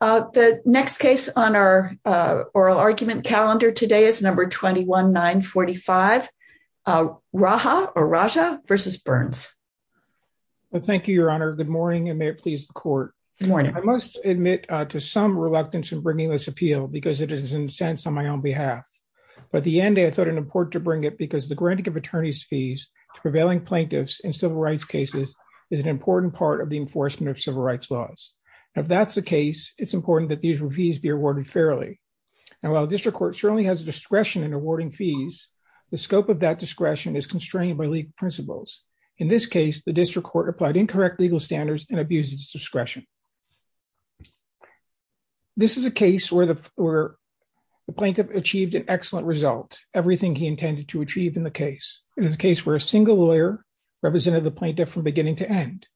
The next case on our oral argument calendar today is number 21945, Raja v. Burns. Thank you, Your Honor. Good morning, and may it please the Court. I must admit to some reluctance in bringing this appeal because it is incensed on my own behalf. But at the end, I thought it important to bring it because the granting of attorneys' fees to prevailing plaintiffs in civil rights cases is an important part of the enforcement of civil rights laws. If that's the case, it's important that these fees be awarded fairly. And while the District Court surely has a discretion in awarding fees, the scope of that discretion is constrained by legal principles. In this case, the District Court applied incorrect legal standards and abused its discretion. This is a case where the plaintiff achieved an excellent result, everything he intended to achieve in the case. It is a case where a single lawyer represented the plaintiff from beginning to end.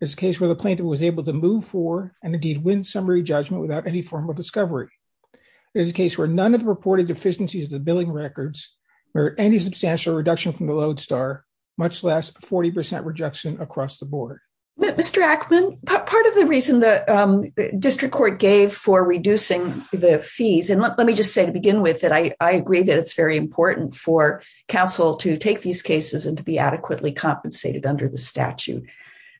It is a case where the plaintiff was able to move for and indeed win summary judgment without any formal discovery. It is a case where none of the reported deficiencies of the billing records merit any substantial reduction from the lodestar, much less a 40% rejection across the board. Mr. Ackman, part of the reason the District Court gave for reducing the fees, and let me just say to begin with that I agree that it's very important for counsel to take these cases and be adequately compensated under the statute.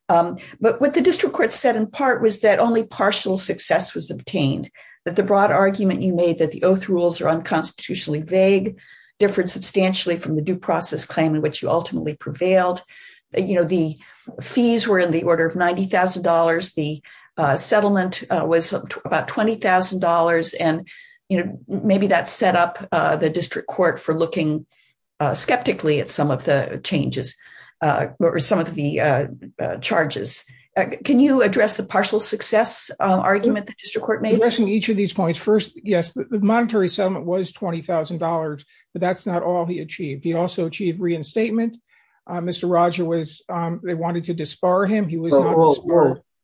But what the District Court said in part was that only partial success was obtained, that the broad argument you made that the oath rules are unconstitutionally vague differed substantially from the due process claim in which you ultimately prevailed. The fees were in the order of $90,000, the settlement was about $20,000, and maybe that or some of the charges. Can you address the partial success argument that the District Court made? Addressing each of these points, first, yes, the monetary settlement was $20,000, but that's not all he achieved. He also achieved reinstatement. Mr. Roger was, they wanted to disbar him, he was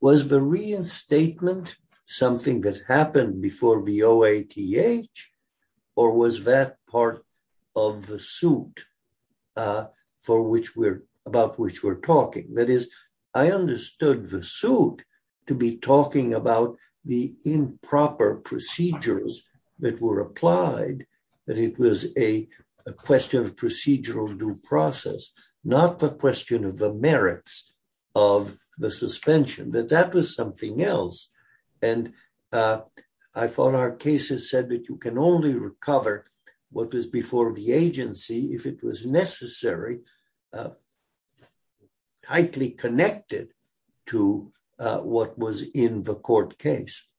Was the reinstatement something that happened before the OATH, or was that part of the suit for which we're, about which we're talking? That is, I understood the suit to be talking about the improper procedures that were applied, that it was a question of procedural due process, not the question of the merits of the suspension, that that was something else. And I thought our case has said that you can only recover what was before the agency if it was necessary, tightly connected to what was in the court case.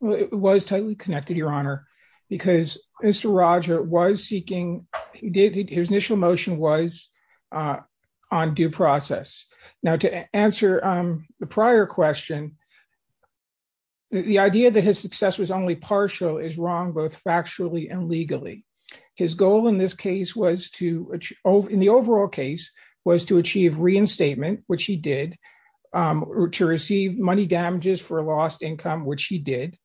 Well, it was tightly connected, Your Honor, because Mr. Roger was seeking, his initial motion was on due process. Now, to answer the prior question, the idea that his success was only partial is wrong, both factually and legally. His goal in this case was to, in the overall case, was to achieve reinstatement, which he did, to receive money damages for a lost income, which he did,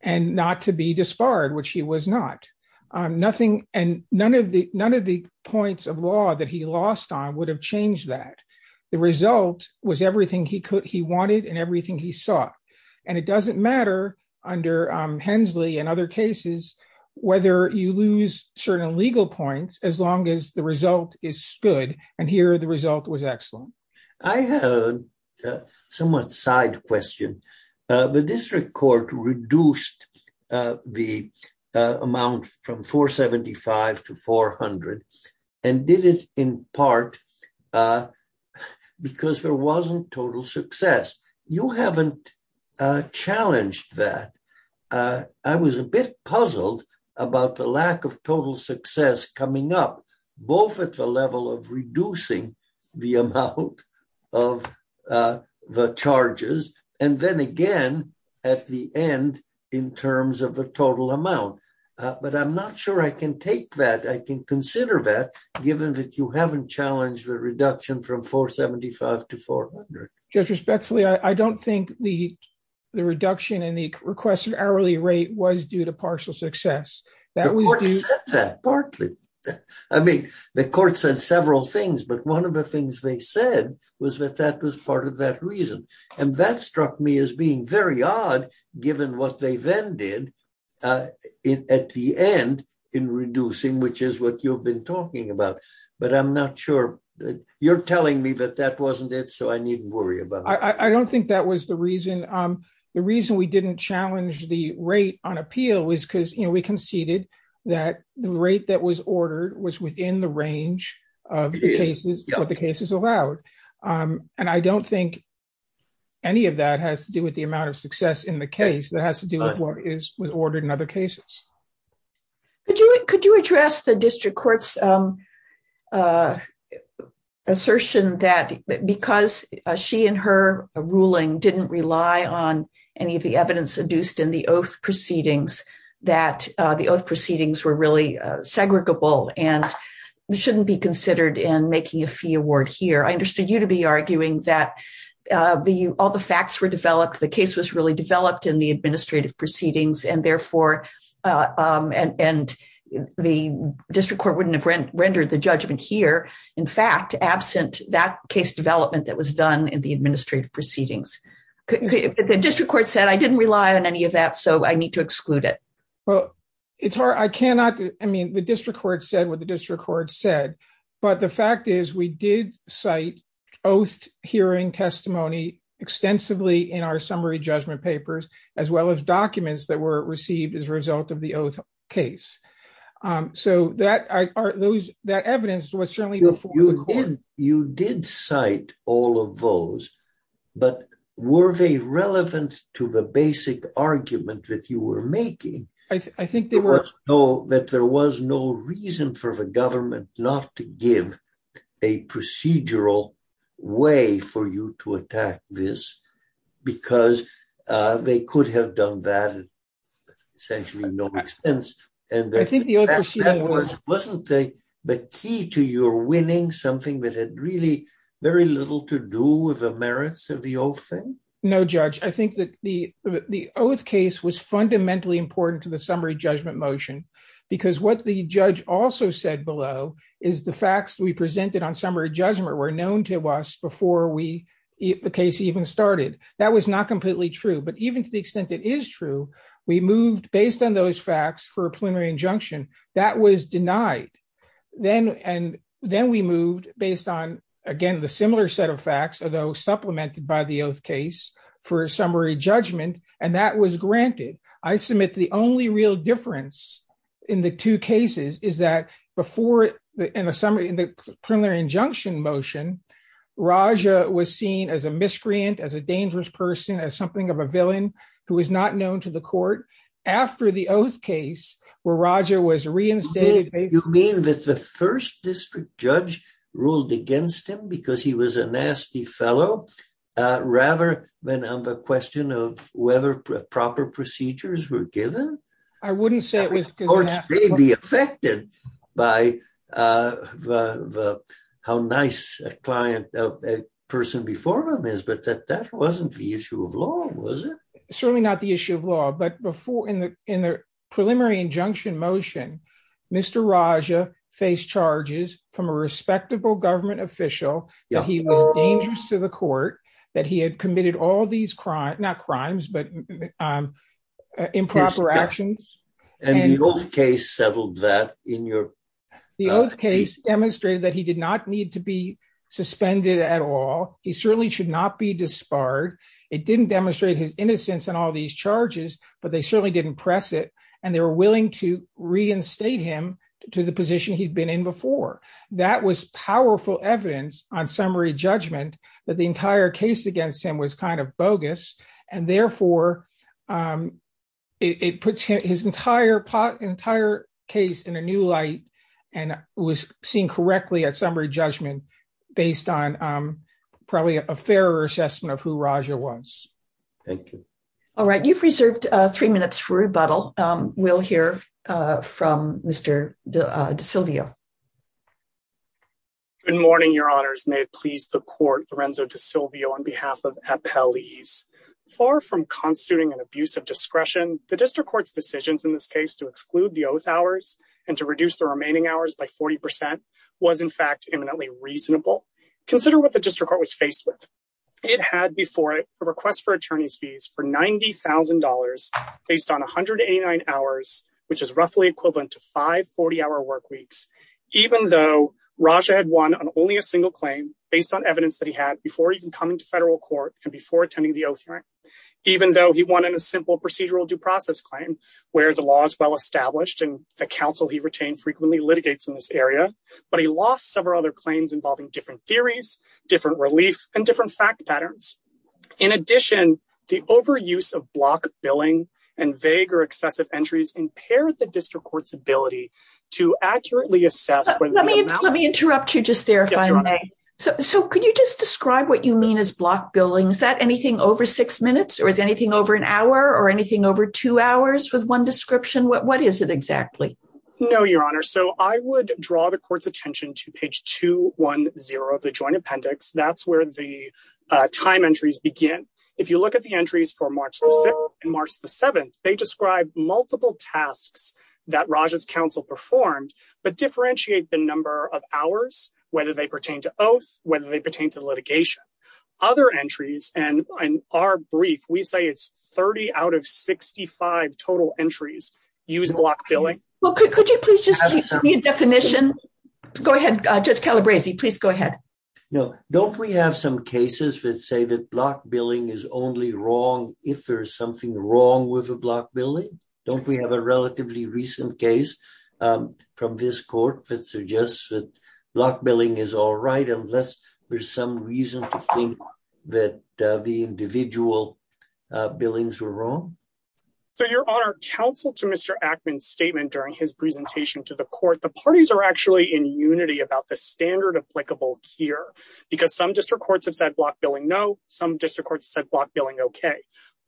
and not to be disbarred, which he was not. Nothing, and none of the points of law that he lost on would have changed that. The result was everything he could, he wanted, and everything he sought. And it doesn't matter under Hensley and other cases, whether you lose certain legal points, as long as the result is good. And here, the result was excellent. I have a somewhat side question. The district court reduced the amount from 475 to 400, and did it in part because there wasn't total success. You haven't challenged that. I was a bit puzzled about the lack of total success coming up, both at the level of reducing the amount of the charges, and then again, at the end, in terms of the total amount. But I'm not sure I can take that. I can consider that, given that you haven't challenged the reduction from 475 to 400. Judge, respectfully, I don't think the reduction in the requested hourly rate was due to partial The court said several things, but one of the things they said was that that was part of that reason. And that struck me as being very odd, given what they then did at the end in reducing, which is what you've been talking about. But I'm not sure. You're telling me that that wasn't it, so I needn't worry about it. I don't think that was the reason. The reason we didn't challenge the rate on appeal was because we conceded that the rate that was ordered was within the range of the cases, what the cases allowed. And I don't think any of that has to do with the amount of success in the case. That has to do with what was ordered in other cases. Could you address the district court's assertion that because she and her ruling didn't rely on any of the evidence induced in the oath proceedings, that the oath proceedings were really segregable and shouldn't be considered in making a fee award here? I understood you to be arguing that all the facts were developed, the case was really developed in the administrative proceedings, and therefore the district court wouldn't have rendered the judgment here, in fact, absent that case development that was done in the administrative proceedings. The district court said, I didn't rely on any of that, so I need to exclude it. Well, it's hard. I cannot. I mean, the district court said what the district court said. But the fact is, we did cite oath hearing testimony extensively in our summary judgment papers, as well as documents that were received as a result of the oath case. So that evidence was there. You did cite all of those, but were they relevant to the basic argument that you were making? I think they were. That there was no reason for the government not to give a procedural way for you to attack this, because they could have done that at essentially no expense, and wasn't the key to your winning something that had really very little to do with the merits of the oath thing? No, Judge, I think that the oath case was fundamentally important to the summary judgment motion, because what the judge also said below is the facts we presented on summary judgment were known to us before the case even started. That was not completely true, even to the extent it is true. We moved based on those facts for a plenary injunction. That was denied. Then we moved based on, again, the similar set of facts, although supplemented by the oath case for summary judgment, and that was granted. I submit the only real difference in the two cases is that before in the plenary injunction motion, Raja was seen as a miscreant, as a dangerous person, as something of a villain, who was not known to the court. After the oath case, where Raja was reinstated. You mean that the first district judge ruled against him because he was a nasty fellow, rather than on the question of whether proper procedures were given? I wouldn't say it wasn't the issue of law, was it? Certainly not the issue of law, but before in the preliminary injunction motion, Mr. Raja faced charges from a respectable government official that he was dangerous to the court, that he had committed all these crimes, not crimes, but improper actions. And the oath case settled that in your... The oath case demonstrated that he did not to be suspended at all. He certainly should not be disbarred. It didn't demonstrate his innocence in all these charges, but they certainly didn't press it. And they were willing to reinstate him to the position he'd been in before. That was powerful evidence on summary judgment, that the entire case against him was kind of bogus. And therefore, it puts his entire case in a new light and was seen correctly at summary judgment based on probably a fairer assessment of who Raja was. Thank you. All right. You've reserved three minutes for rebuttal. We'll hear from Mr. DeSilvio. Good morning, your honors. May it please the court, Lorenzo DeSilvio on behalf of Appellees. Far from constituting an abuse of discretion, the district court's decisions in this case to exclude the oath hours and to reduce the remaining hours by 40% was in fact eminently reasonable. Consider what the district court was faced with. It had before it a request for attorney's fees for $90,000 based on 189 hours, which is roughly equivalent to five 40-hour work weeks, even though Raja had won on only a single claim based on evidence that he had before even coming to federal court and before attending the oath hearing. Even though he won in a simple procedural due process claim where the law is well established and the counsel he retained frequently litigates in this area, but he lost several other claims involving different theories, different relief, and different fact patterns. In addition, the overuse of block billing and vague or excessive entries impaired the district court's ability to accurately assess. Let me interrupt you just there if I may. So could you just describe what you mean as block billing? Is that anything over six minutes or is anything over an hour or anything over two hours with one description? What is it exactly? No, your honor. So I would draw the court's attention to page 210 of the joint appendix. That's where the time entries begin. If you look at the entries for March 6th and March 7th, they describe multiple tasks that Raja's counsel performed but differentiate the number of hours, whether they pertain to oath, whether they pertain to litigation. Other entries and in our brief, we say it's 30 out of 65 total entries use block billing. Well, could you please just give me a definition? Go ahead, Judge Calabresi, please go ahead. No, don't we have some cases that say that block billing is only wrong if there's something wrong with a block billing? Don't we have a relatively recent case from this court that suggests that block billing is all right unless there's some reason to think that the individual billings were wrong? So your honor, counsel to Mr. Ackman's statement during his presentation to the court, the parties are actually in unity about the standard applicable here because some district courts have said block billing no, some district courts said block billing okay.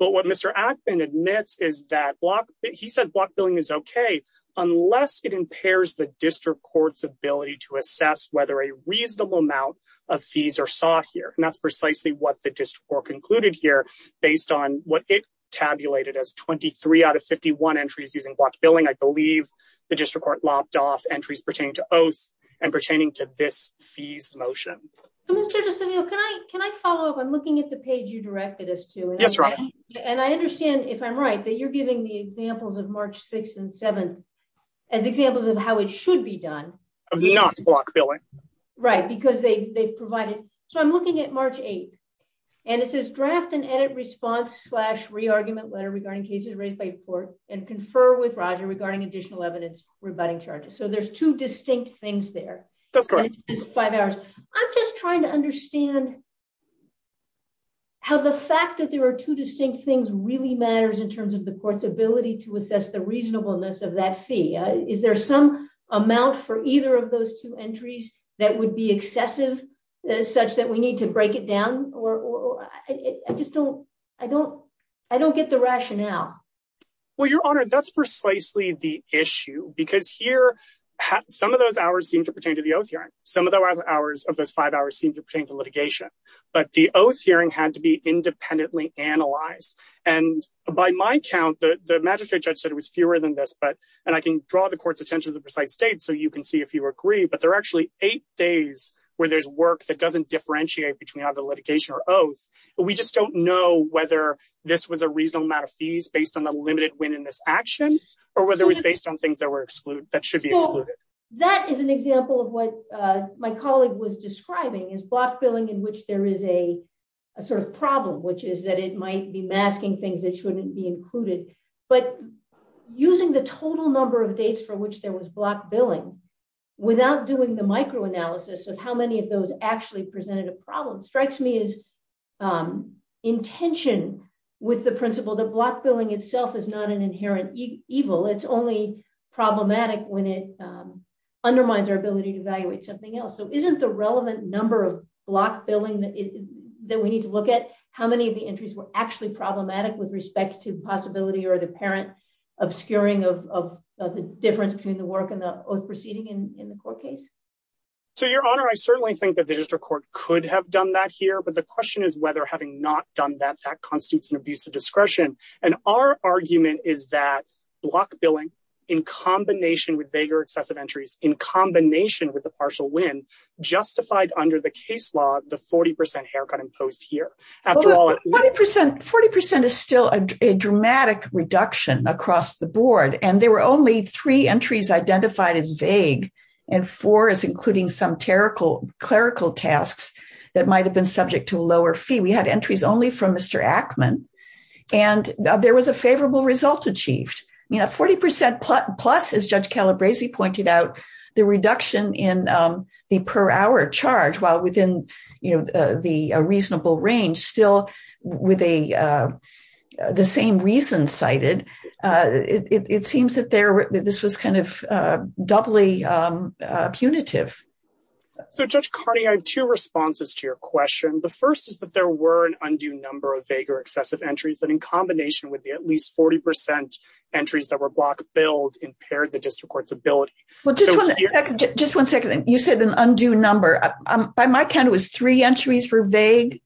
But what Mr. Ackman admits is that block, he says block billing is okay unless it impairs the district court's ability to assess whether a reasonable amount of fees are sought here. And that's precisely what the district court concluded here based on what it tabulated as 23 out of 51 entries using block billing. I believe the district court lopped off entries pertaining to oath and pertaining to this fees motion. Can I follow up? I'm looking at the page you directed us to. Yes, right. And I understand if I'm right that you're giving the examples of March 6th and 7th as examples of how it should be done. Of not block billing. Right, because they've provided. So I'm looking at March 8th and it says draft and edit response slash re-argument letter regarding cases raised by the court and confer with Roger regarding additional evidence rebutting charges. So there's two distinct things there. That's correct. Five hours. I'm just trying to understand how the fact that there are two distinct things really matters in terms of the court's ability to assess the reasonableness of that fee. Is there some amount for either of those two entries that would be excessive such that we need to break it down? I don't get the rationale. Well, your honor, that's precisely the issue because here some of those hours seem to pertain to the oath hearing. Some of those hours of those five hours seem to pertain to litigation. But the oath hearing had to be independently analyzed. And by my count, the magistrate judge said it was fewer than this. And I can draw the court's attention to the precise date so you can see if you agree. But there are actually eight days where there's work that doesn't differentiate between either litigation or oath. We just don't know whether this was a reasonable amount of fees based on the limited win in this action or whether it was based on things that were excluded, that should be excluded. That is an example of what my colleague was describing is block billing in which there is a sort of problem, which is that it might be masking things that shouldn't be included. But using the total number of dates for which there was block billing without doing the micro analysis of how many of those actually presented a problem strikes me as intention with the principle that block billing itself is not an inherent evil. It's only problematic when it undermines our ability to evaluate something else. So isn't the relevant number of block billing that we need to look at how many of the entries were actually problematic with respect to the possibility or the apparent obscuring of the difference between the work and the proceeding in the court case? So your honor, I certainly think that the district court could have done that here. But the question is whether having not done that constitutes an abuse of discretion. And our argument is that block billing in combination with vaguer excessive entries in combination with the partial win justified under the case law, the 40% haircut imposed here. 40% is still a dramatic reduction across the board. And there were only three entries identified as vague. And four is including some clerical tasks that might have been subject to lower fee. We had entries only from Mr. Ackman. And there was a favorable result achieved. 40% plus, as Judge Calabresi pointed out, the reduction in the per hour charge while within the reasonable range still with the same reason cited. It seems that this was kind of doubly punitive. So Judge Carney, I have two responses to your question. The first is that there were an undue number of vaguer excessive entries that in combination with the at least 40% entries that were block billed impaired the district court's ability. But just one second. You said an undue number. By my count, it was three entries were vague.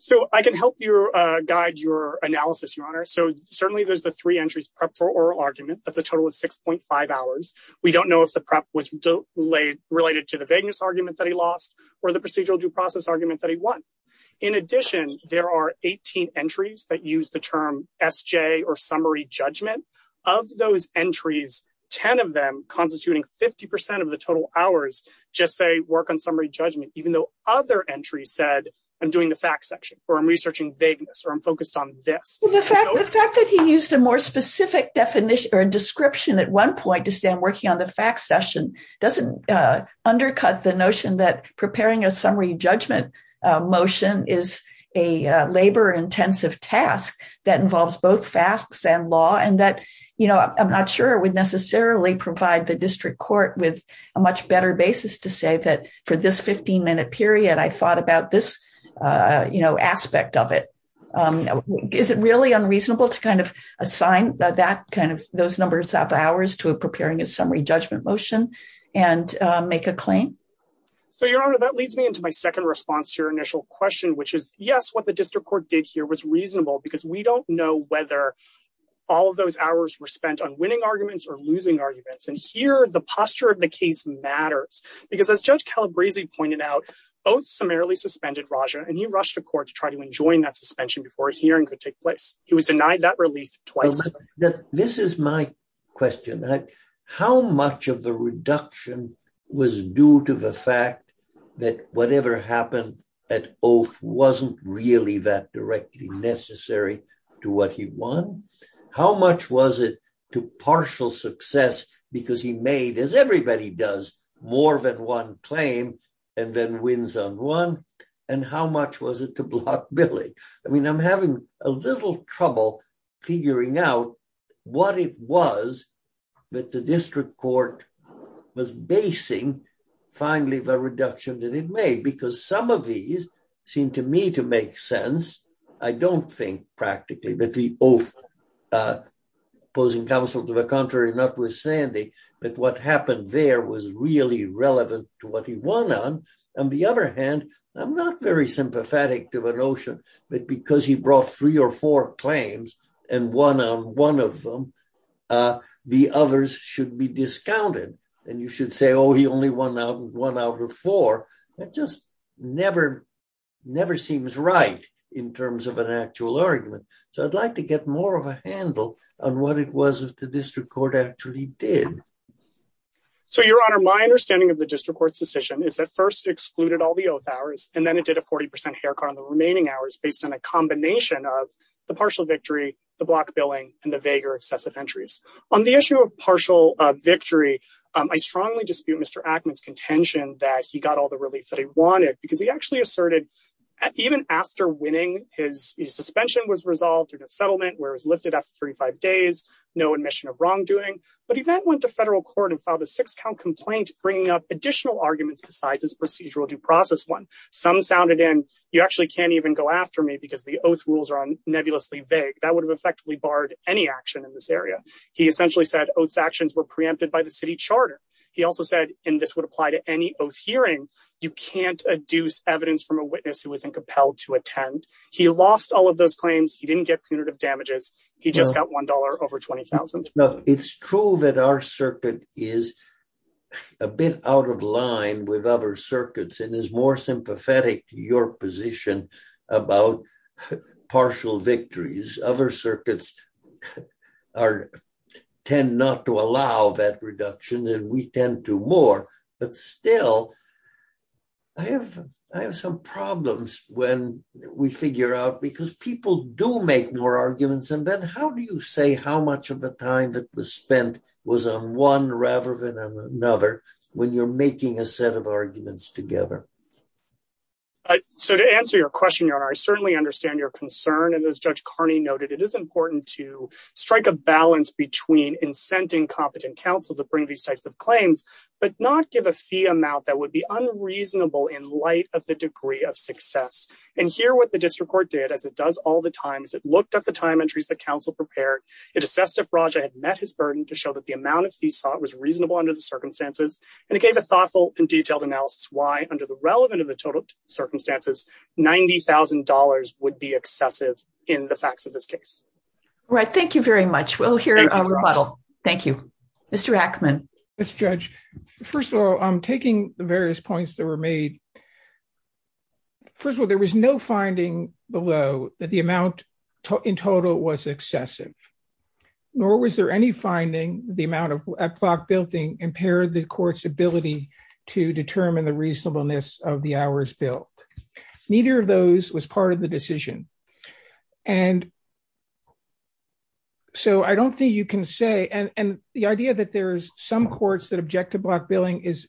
So I can help you guide your analysis, your honor. So certainly there's the three entries prepped for oral argument. But the total is 6.5 hours. We don't know if the prep was related to the vagueness argument that he lost or the procedural due process argument that he won. In addition, there are 18 entries that use the term SJ or summary judgment. Of those entries, 10 of them constituting 50% of the total hours just say work on summary judgment, even though other entries said I'm doing the fact section or I'm researching vagueness or I'm focused on this. The fact that he used a more specific definition or description at one point to stand working on the fact session doesn't undercut the notion that preparing a summary judgment motion is a labor intensive task that involves both facts and law and that, you know, I'm not sure would necessarily provide the district court with a much better basis to say that for this 15 minute period, I thought about this, you know, aspect of it. Is it really unreasonable to kind of assign that kind of those numbers of hours to preparing a summary judgment motion and make a claim? So your honor, that leads me into my second response to your initial question, which is yes, what the district court did here was reasonable because we don't know whether all of those hours were spent on winning arguments or losing arguments. And here the posture of the case matters because as Judge Calabresi pointed out, both summarily suspended Raja and he rushed to court to try to enjoin that suspension before a hearing could take place. He said that the reduction was due to the fact that whatever happened at oath wasn't really that directly necessary to what he won. How much was it to partial success because he made, as everybody does, more than one claim and then wins on one? And how much was it to block billing? I mean, I'm having a little trouble figuring out what it was that the district court was basing finally the reduction that it made because some of these seem to me to make sense. I don't think practically that the oath opposing counsel to the contrary notwithstanding that what happened there was really relevant to what he won on. On the other hand, I'm not very sympathetic to the notion that because he brought three or four claims and won on one of them, the others should be discounted. And you should say, oh, he only won out with one out of four. That just never seems right in terms of an actual argument. So I'd like to get more of a handle on what it was that the district court actually did. So, Your Honor, my understanding of the district court's decision is first excluded all the oath hours and then it did a 40% haircut on the remaining hours based on a combination of the partial victory, the block billing, and the vaguer excessive entries. On the issue of partial victory, I strongly dispute Mr. Ackman's contention that he got all the relief that he wanted because he actually asserted even after winning, his suspension was resolved in a settlement where it was lifted after 35 days, no admission of wrongdoing, but he then went to federal court and filed a six-count complaint bringing up additional arguments besides his procedural due process one. Some sounded in, you actually can't even go after me because the oath rules are nebulously vague. That would have effectively barred any action in this area. He essentially said oaths actions were preempted by the city charter. He also said, and this would apply to any oath hearing, you can't adduce evidence from a witness who isn't compelled to attend. He lost all of those claims. He didn't get punitive damages. He just got $1 over $20,000. It's true that our circuit is a bit out of line with other circuits and is more sympathetic to your position about partial victories. Other circuits tend not to allow that reduction and we tend to more, but still, I have some problems when we figure out because people do make more arguments. And then how do you say how much of the time that was spent was on one rather than another when you're making a set of arguments together? So to answer your question, your honor, I certainly understand your concern. And as Judge Carney noted, it is important to strike a balance between incenting competent counsel to bring these types of claims, but not give a fee amount that would be unreasonable in light of the degree of excess. And here what the district court did, as it does all the time, is it looked at the time entries that counsel prepared. It assessed if Raja had met his burden to show that the amount of fees sought was reasonable under the circumstances. And it gave a thoughtful and detailed analysis why under the relevant of the total circumstances, $90,000 would be excessive in the facts of this case. All right. Thank you very much. We'll hear a rebuttal. Thank you. Mr. Ackman. Yes, Judge. First of all, I'm taking the various points that were made. First of all, there was no finding below that the amount in total was excessive, nor was there any finding the amount of clock building impaired the court's ability to determine the reasonableness of the hours built. Neither of those was part of the decision. And so I don't think you can say, and the idea that there's some courts that object to block billing is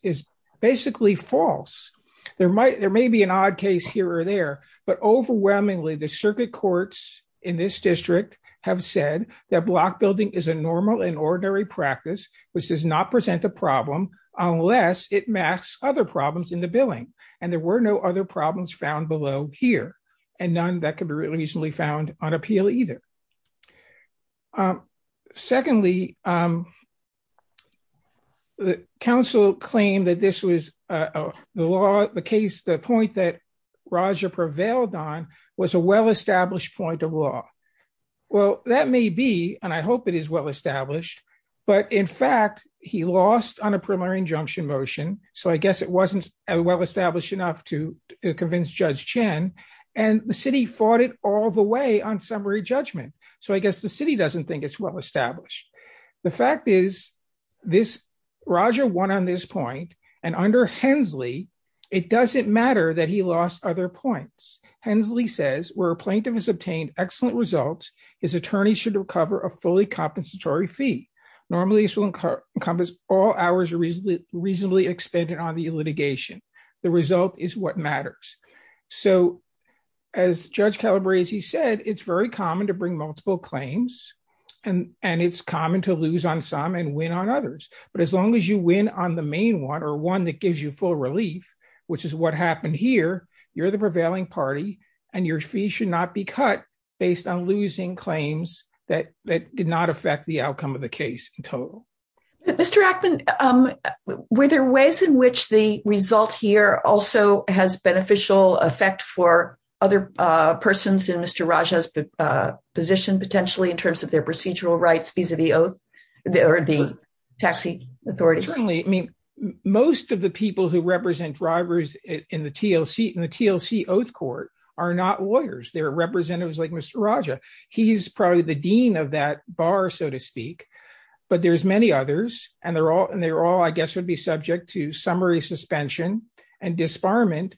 basically false. There may be an odd case here or there, but overwhelmingly the circuit courts in this district have said that block building is a normal and ordinary practice, which does not present a problem unless it masks other problems in the billing. And there were no problems found below here, and none that could be reasonably found on appeal either. Secondly, the counsel claimed that this was the law, the case, the point that Raja prevailed on was a well-established point of law. Well, that may be, and I hope it is well established, but in fact, he lost on a preliminary injunction motion. So I guess it wasn't well established enough to convince Judge Chen and the city fought it all the way on summary judgment. So I guess the city doesn't think it's well-established. The fact is Raja won on this point and under Hensley, it doesn't matter that he lost other points. Hensley says, where a plaintiff has obtained excellent results, his attorney should recover a fully compensatory fee. Normally this will encompass all hours reasonably expended on the litigation. The result is what matters. So as Judge Calabresi said, it's very common to bring multiple claims and it's common to lose on some and win on others. But as long as you win on the main one or one that gives you full relief, which is what happened here, you're the prevailing party and your fees should not be cut based on losing claims that did not affect the outcome of the case in total. Mr. Ackman, were there ways in which the result here also has beneficial effect for other persons in Mr. Raja's position potentially in terms of their procedural rights vis-a-vis the Taxi Authority? Certainly. I mean, most of the people who represent drivers in the TLC Oath Court are not lawyers. They're representatives like Mr. Raja. He's probably the dean of that bar, so to speak, but there's many others and they're all, I guess, would be subject to summary suspension and disbarment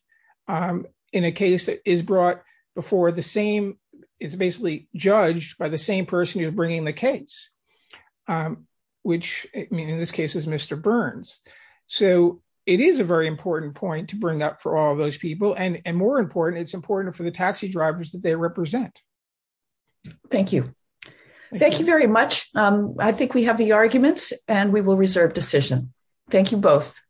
in a case that is brought before the same, is basically judged by the same person who's bringing the case, which in this case is Mr. Burns. So it is a very important point to bring up for all of those people and more important, it's important for the taxi drivers that they represent. Thank you. Thank you very much. I think we have the arguments and we will reserve decision. Thank you both.